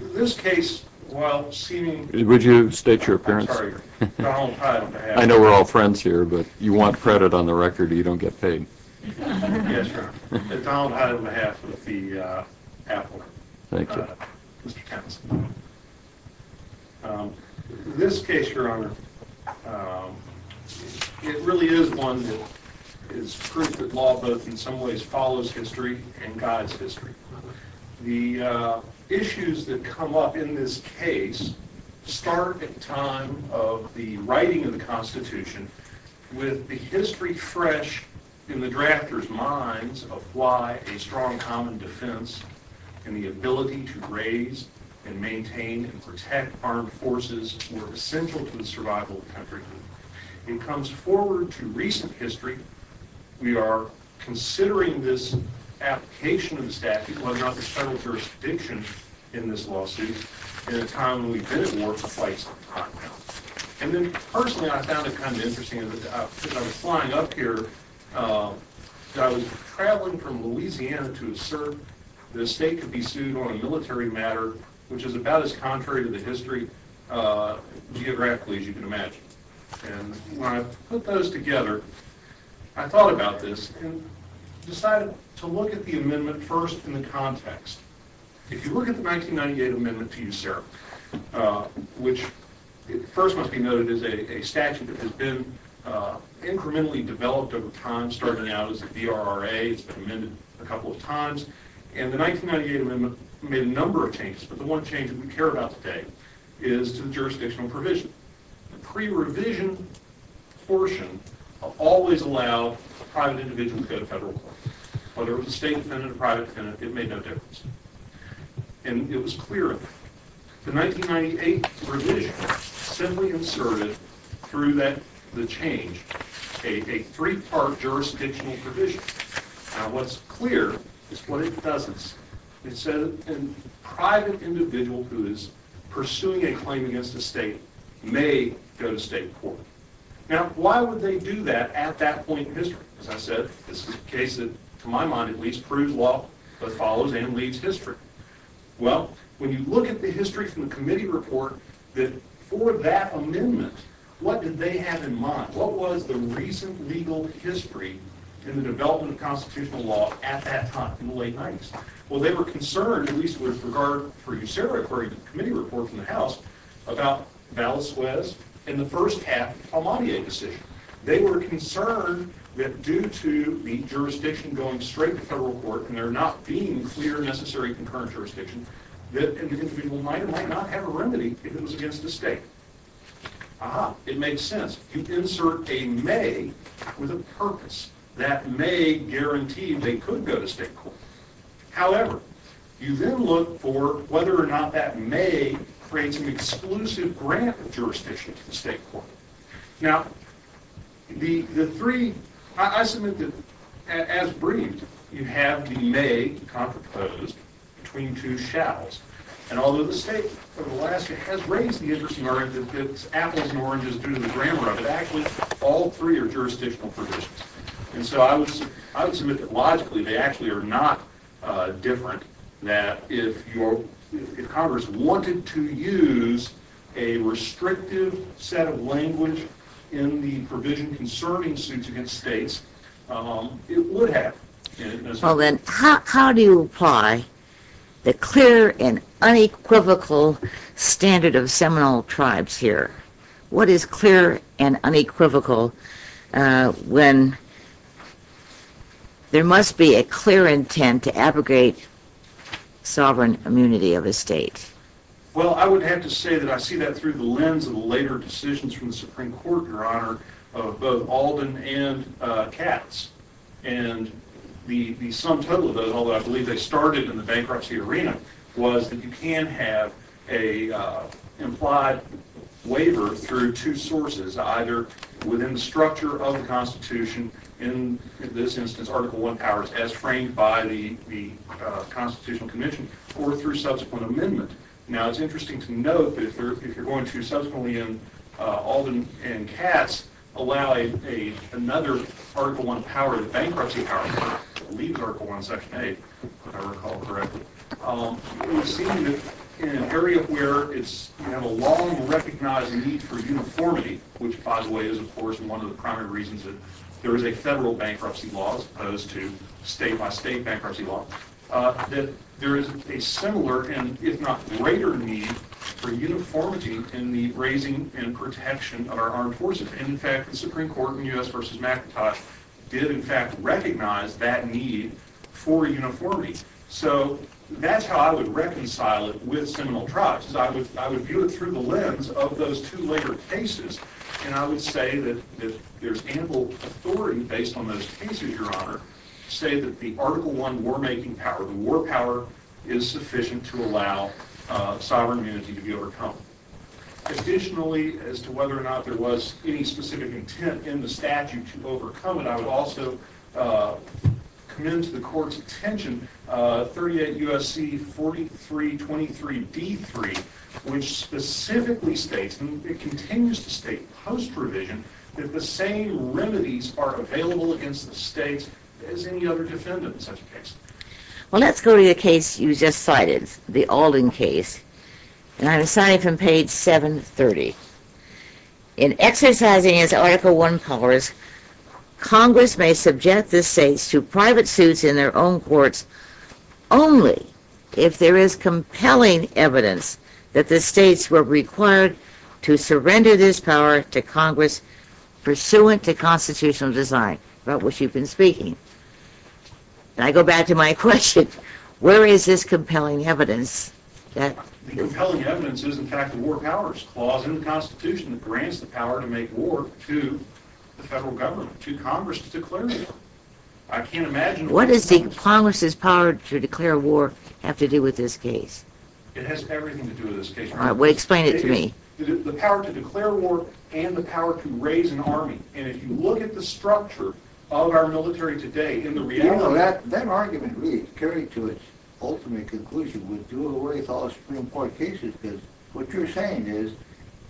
This case, while seeming, would you state your appearance? I know we're all friends here, but you want credit on the record or you don't get paid. Yes, Your Honor. Donald Hyde, on behalf of the appellate. Thank you. Mr. Townsend. This case, Your Honor, it really is one that is proof that law both in some ways follows history and guides history. The issues that come up in this case start at the time of the writing of the Constitution with the history fresh in the drafter's minds of why a strong common defense and the ability to raise and maintain and protect armed forces were essential to the survival of the country. It comes forward to recent history. We are considering this application of the statute, whether or not there's federal jurisdiction in this lawsuit, at a time when we've been at war twice on the continent. And then, personally, I found it kind of interesting, as I was flying up here, as I was traveling from Louisiana to assert that a state could be sued on a military matter, which is about as contrary to the history, geographically, as you can imagine. And when I put those together, I thought about this and decided to look at the amendment first in the context. If you look at the 1998 amendment to USERRA, which first must be noted is a statute that has been incrementally developed over time, starting out as a VRRA. It's been amended a couple of times. And the 1998 amendment made a number of changes, but the one change that we care about today is to the jurisdictional provision. The pre-revision portion of always allow a private individual to go to federal court. Whether it was a state defendant or a private defendant, it made no difference. And it was clear of that. The 1998 revision simply asserted, through the change, a three-part jurisdictional provision. Now, what's clear is what it doesn't. It said that a private individual who is pursuing a claim against a state may go to state court. Now, why would they do that at that point in history? As I said, this is a case that, to my mind, at least proves law, but follows and leaves history. Well, when you look at the history from the committee report, for that amendment, what did they have in mind? What was the recent legal history in the development of constitutional law at that time, in the late 90s? Well, they were concerned, at least with regard for USERRA, according to the committee report from the House, about Valisuez and the first half Amadieh decision. They were concerned that due to the jurisdiction going straight to federal court, and there not being clear necessary concurrent jurisdiction, that an individual might or might not have a remedy if it was against the state. Ah-ha, it makes sense. You insert a may with a purpose. That may guaranteed they could go to state court. However, you then look for whether or not that may creates an exclusive grant of jurisdiction to the state court. Now, the three, I submit that, as briefed, you have the may contraposed between two shalls. And although the state of Alaska has raised the interest in America, its apples and oranges due to the grammar of it, actually, all three are jurisdictional provisions. And so I would submit that, logically, they actually are not different. That if Congress wanted to use a restrictive set of language in the provision concerning suits against states, it would have. Well then, how do you apply the clear and unequivocal standard of seminal tribes here? What is clear and unequivocal when there must be a clear intent to abrogate sovereign immunity of a state? Well, I would have to say that I see that through the lens of the later decisions from the Supreme Court, Your Honor, of both Alden and Katz. And the sum total of those, although I believe they started in the bankruptcy arena, was that you can have an implied waiver through two sources, either within the structure of the Constitution, in this instance, Article I powers, as framed by the Constitutional Convention, or through subsequent amendment. Now, it's interesting to note that if you're going to, subsequently in Alden and Katz, allow another Article I power, the bankruptcy power, that leaves Article I, Section 8, if I recall correctly, it would seem that in an area where you have a long recognized need for uniformity, which by the way is, of course, one of the primary reasons that there is a federal bankruptcy law as opposed to state-by-state bankruptcy law, that there is a similar, and if not greater, need for uniformity in the raising and protection of our armed forces. And in fact, the Supreme Court in U.S. v. McIntyre did, in fact, recognize that need for uniformity. So, that's how I would reconcile it with seminal tribes. I would view it through the lens of those two later cases, and I would say that there's ample authority based on those cases, Your Honor, to say that the Article I war-making power, the war power, is sufficient to allow sovereign immunity to be overcome. Additionally, as to whether or not there was any specific intent in the statute to overcome it, I would also commend to the Court's attention 38 U.S.C. 4323d3, which specifically states, and it continues to state post-provision, that the same remedies are available against the states as any other defendant in such a case. Well, let's go to the case you just cited, the Alden case, and I'm assigning from page 730. In exercising its Article I powers, Congress may subject the states to private suits in their own courts only if there is compelling evidence that the states were required to surrender this power to Congress pursuant to constitutional design. About which you've been speaking. And I go back to my question, where is this compelling evidence? The compelling evidence is, in fact, the war powers clause in the Constitution that grants the power to make war to the federal government, to Congress to declare war. What does Congress's power to declare war have to do with this case? It has everything to do with this case. Explain it to me. The power to declare war and the power to raise an army. And if you look at the structure of our military today in the reality... You know, that argument really is carried to its ultimate conclusion. We'll do away with all the Supreme Court cases because what you're saying is,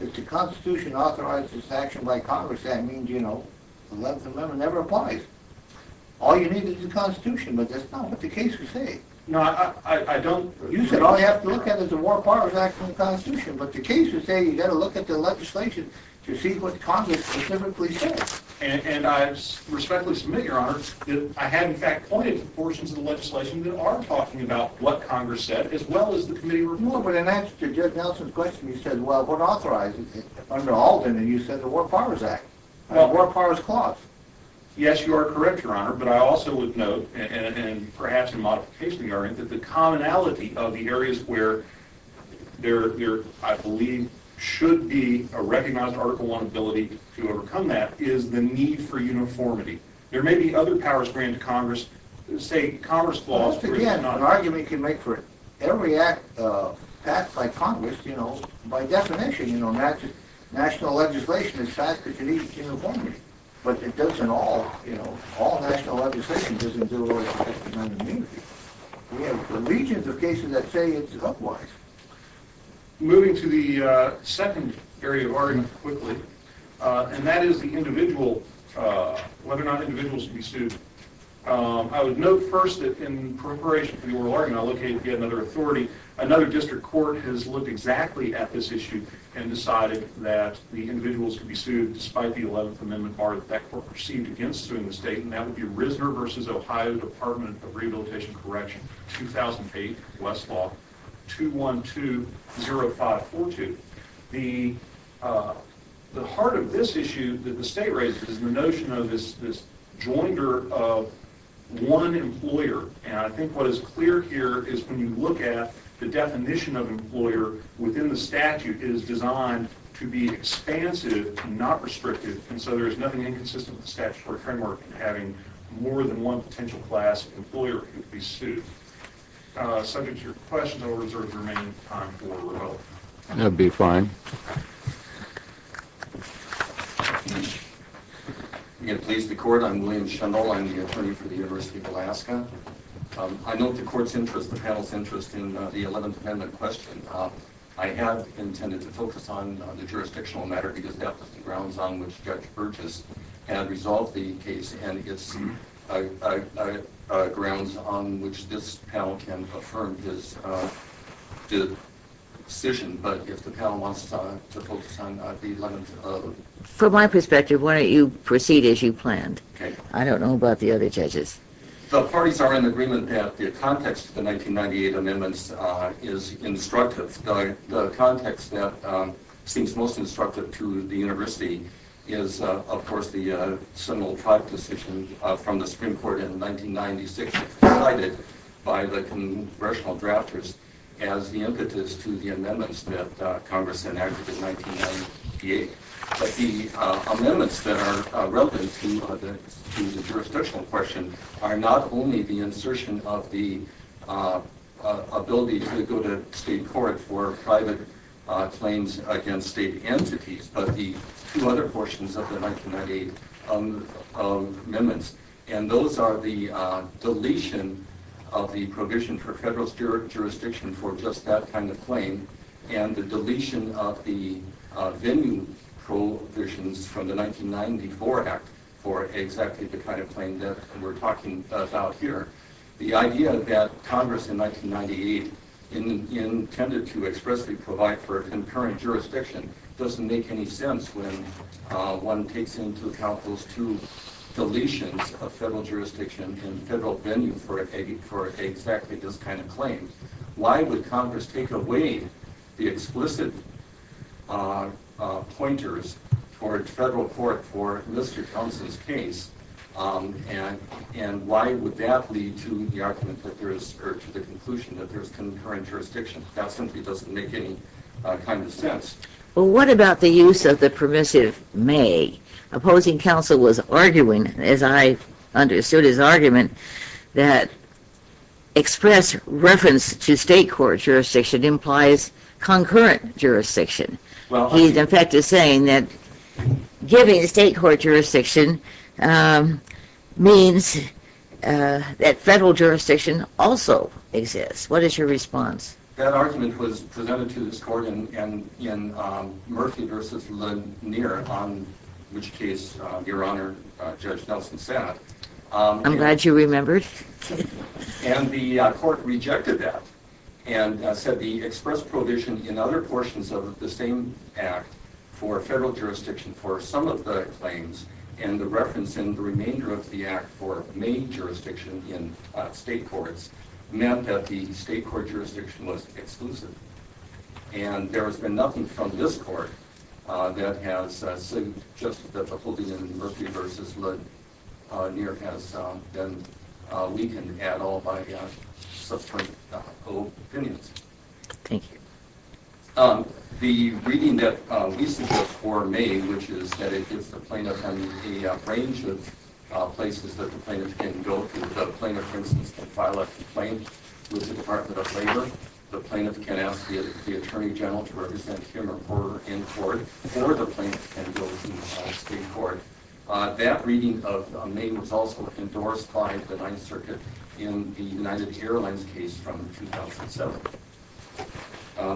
if the Constitution authorizes action by Congress, that means, you know, the 11th Amendment never applies. All you need is the Constitution, but that's not what the cases say. No, I don't... You said all you have to look at is the War Powers Act from the Constitution, but the cases say you've got to look at the legislation to see what Congress specifically says. And I respectfully submit, Your Honor, that I have, in fact, pointed to portions of the legislation that are talking about what Congress said, as well as the committee report. But in answer to Judge Nelson's question, you said, well, what authorizes it? Under Alden, you said the War Powers Act, the War Powers Clause. Yes, you are correct, Your Honor. But I also would note, and perhaps in a modification, Your Honor, that the commonality of the areas where there, I believe, should be a recognized Article I ability to overcome that is the need for uniformity. There may be other powers granted to Congress. Just again, an argument you can make for it. Every act passed by Congress, you know, by definition, you know, national legislation, it's passed because you need uniformity. But it doesn't all, you know, all national legislation doesn't do it. We have legions of cases that say it's otherwise. Moving to the second area of argument quickly, and that is the individual, whether or not individuals should be sued. I would note first that in preparation for the oral argument, I'll look at, again, another authority. Another district court has looked exactly at this issue and decided that the individuals could be sued despite the 11th Amendment bar that that court perceived against suing the state, and that would be Risner v. Ohio Department of Rehabilitation and Correction, 2008, Westlaw 2120542. The heart of this issue that the state raises is the notion of this joinder of one employer. And I think what is clear here is when you look at the definition of employer within the statute, it is designed to be expansive, not restrictive, and so there is nothing inconsistent with the statutory framework in having more than one potential class of employer who could be sued. Subject to your questions, I will reserve the remaining time for rebuttal. That would be fine. Again, please, the court. I'm William Shendal. I'm the attorney for the University of Alaska. I note the court's interest, the panel's interest, in the 11th Amendment question. I have intended to focus on the jurisdictional matter because that was the grounds on which Judge Burgess had resolved the case, and it's grounds on which this panel can affirm his decision. But if the panel wants to focus on the 11th Amendment... From my perspective, why don't you proceed as you planned? I don't know about the other judges. The parties are in agreement that the context of the 1998 amendments is instructive. The context that seems most instructive to the University is, of course, the Seminole Tribe decision from the Supreme Court in 1996 provided by the congressional drafters as the impetus to the amendments that Congress enacted in 1998. But the amendments that are relevant to the jurisdictional question are not only the insertion of the ability to go to state court for private claims against state entities, but the two other portions of the 1998 amendments. And those are the deletion of the provision for federal jurisdiction for just that kind of claim, and the deletion of the venue provisions from the 1994 Act for exactly the kind of claim that we're talking about here. The idea that Congress in 1998 intended to expressly provide for concurrent jurisdiction doesn't make any sense when one takes into account those two deletions of federal jurisdiction and federal venue for exactly this kind of claim. Why would Congress take away the explicit pointers towards federal court for Mr. Thompson's case? And why would that lead to the conclusion that there's concurrent jurisdiction? That simply doesn't make any kind of sense. Well, what about the use of the permissive may? Opposing counsel was arguing, as I understood his argument, that express reference to state court jurisdiction implies concurrent jurisdiction. He, in effect, is saying that giving state court jurisdiction means that federal jurisdiction also exists. What is your response? That argument was presented to this court in Murphy v. Lanier, on which case Your Honor, Judge Nelson sat. I'm glad you remembered. And the court rejected that and said the express provision in other portions of the same Act for federal jurisdiction for some of the claims and the reference in the remainder of the Act for may jurisdiction in state courts meant that the state court jurisdiction was exclusive. And there has been nothing from this court that has suggested that the holding in Murphy v. Lanier has been weakened at all by subsequent opinions. Thank you. The reading that we suggest for may, which is that it gives the plaintiff a range of places that the plaintiff can go to. The plaintiff, for instance, can file a complaint with the Department of Labor. The plaintiff can ask the Attorney General to represent him or her in court. Or the plaintiff can go to state court. That reading of may was also endorsed by the Ninth Circuit in the United Airlines case from 2007.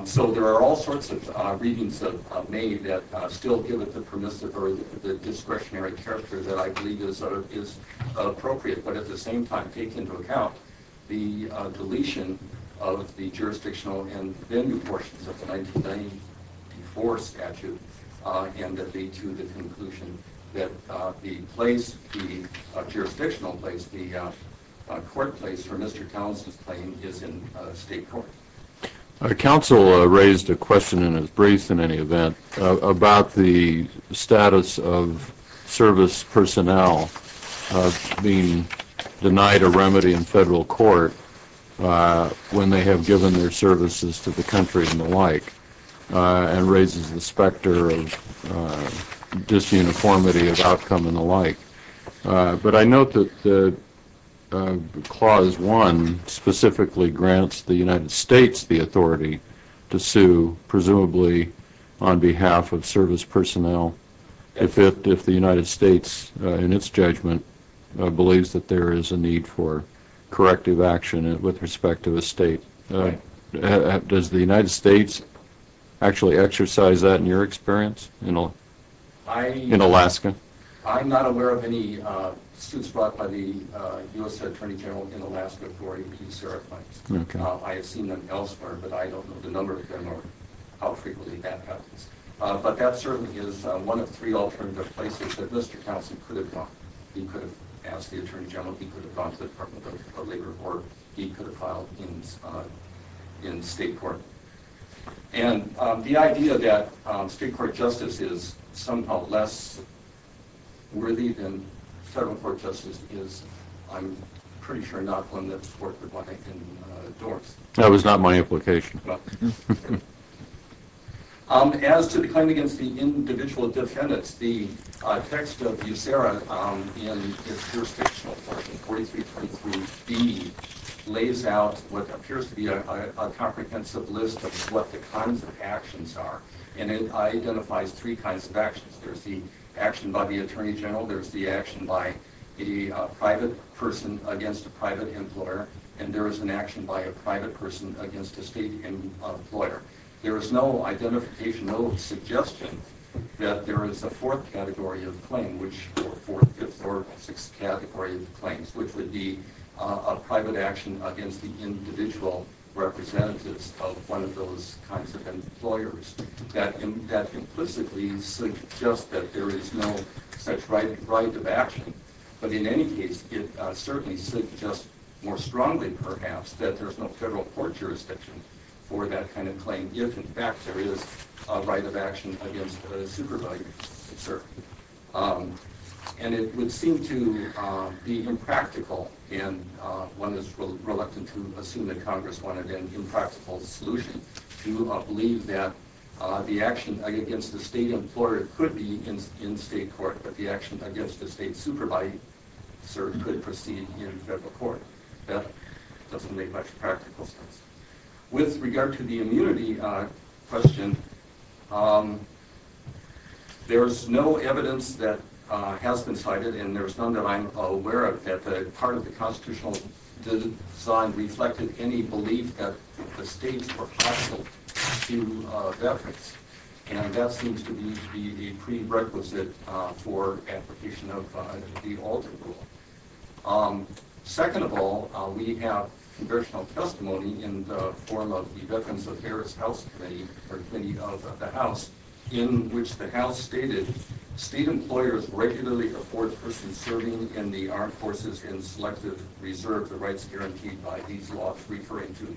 So there are all sorts of readings of may that still give it the permissive or the discretionary character that I believe is appropriate, but at the same time take into account the deletion of the jurisdictional and venue portions of the 1994 statute and to the conclusion that the place, the jurisdictional place, the court place for Mr. Townsend's claim is in state court. Our counsel raised a question in his brief, in any event, about the status of service personnel being denied a remedy in federal court when they have given their services to the country and the like and raises the specter of disuniformity of outcome and the like. But I note that Clause 1 specifically grants the United States the authority to sue presumably on behalf of service personnel if the United States, in its judgment, believes that there is a need for corrective action with respect to a state. Does the United States actually exercise that in your experience in Alaska? I'm not aware of any suits brought by the U.S. Attorney General in Alaska for AP serif claims. I have seen them elsewhere, but I don't know the number of them or how frequently that happens. But that certainly is one of three alternative places that Mr. Townsend could have gone. I don't know if he could have gone to the Department of Labor or he could have filed in state court. And the idea that state court justice is somehow less worthy than federal court justice is, I'm pretty sure, not one that the court would want to endorse. That was not my implication. As to the claim against the individual defendants, the text of USERA in its jurisdictional portion, 43.3b, lays out what appears to be a comprehensive list of what the kinds of actions are. And it identifies three kinds of actions. There's the action by the Attorney General, there's the action by a private person against a private employer, and there is an action by a private person against a state employer. There is no identification, no suggestion that there is a fourth category of claim, or fourth, fifth, or sixth category of claims, which would be a private action against the individual representatives of one of those kinds of employers. That implicitly suggests that there is no such right of action. But in any case, it certainly suggests more strongly, perhaps, that there's no federal court jurisdiction for that kind of claim, if, in fact, there is a right of action against a supervisor. And it would seem to be impractical, and one is reluctant to assume that Congress wanted an impractical solution, to believe that the action against the state employer could be in state court, but the action against the state supervisor could proceed in federal court. That doesn't make much practical sense. With regard to the immunity question, there's no evidence that has been cited, and there's none that I'm aware of, that part of the constitutional design reflected any belief that the states were hostile to veterans. And that seems to be the prerequisite for application of the Alter Rule. Second of all, we have congressional testimony in the form of the Veterans of Harris House Committee, or Committee of the House, in which the House stated, state employers regularly afford persons serving in the armed forces in selective reserve the rights guaranteed by these laws, referring to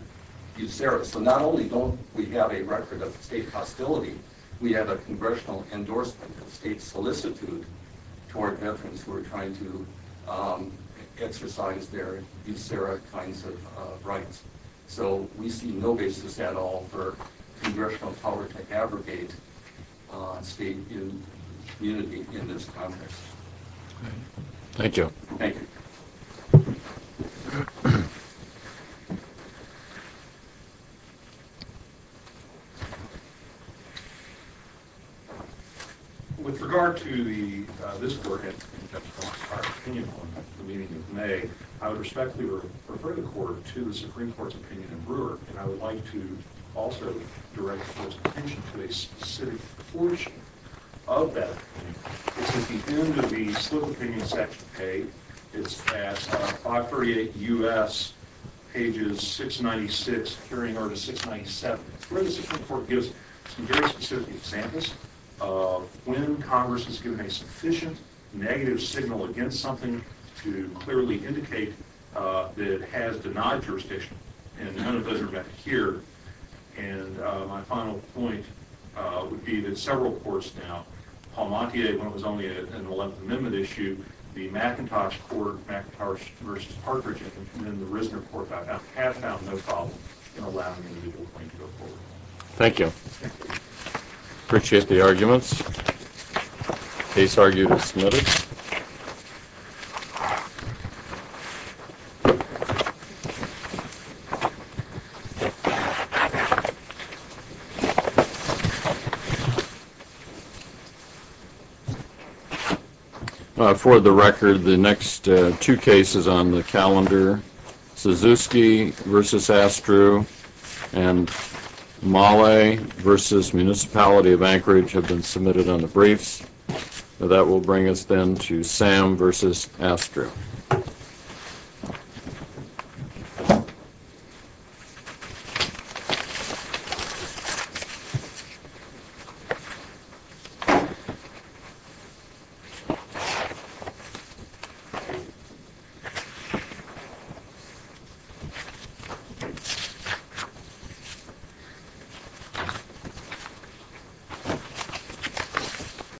USERRA. So not only don't we have a record of state hostility, we have a congressional endorsement of state solicitude toward veterans who are trying to exercise their USERRA kinds of rights. So we see no basis at all for congressional power to abrogate state immunity in this context. Thank you. Thank you. Thank you. With regard to this work and our opinion on the meeting in May, I would respectfully refer the Court to the Supreme Court's opinion in Brewer, and I would like to also direct the Court's attention to a specific portion of that opinion. It's at the end of the split opinion section, A. It's at 538 U.S., pages 696, hearing order 697. The Supreme Court gives some very specific examples of when Congress has given a sufficient negative signal against something to clearly indicate that it has denied jurisdiction, and none of those are met here. And my final point would be that several courts now, Paul Montier, when it was only an Eleventh Amendment issue, the McIntosh Court, McIntosh v. Parker, and the Rissner Court have found no problem in allowing an illegal claim to go forward. Thank you. Appreciate the arguments. Case argued as submitted. For the record, the next two cases on the calendar, Suzuki v. Astru and Mahle v. Municipality of Anchorage have been submitted on the briefs. That will bring us then to Sam v. Astru. Thank you.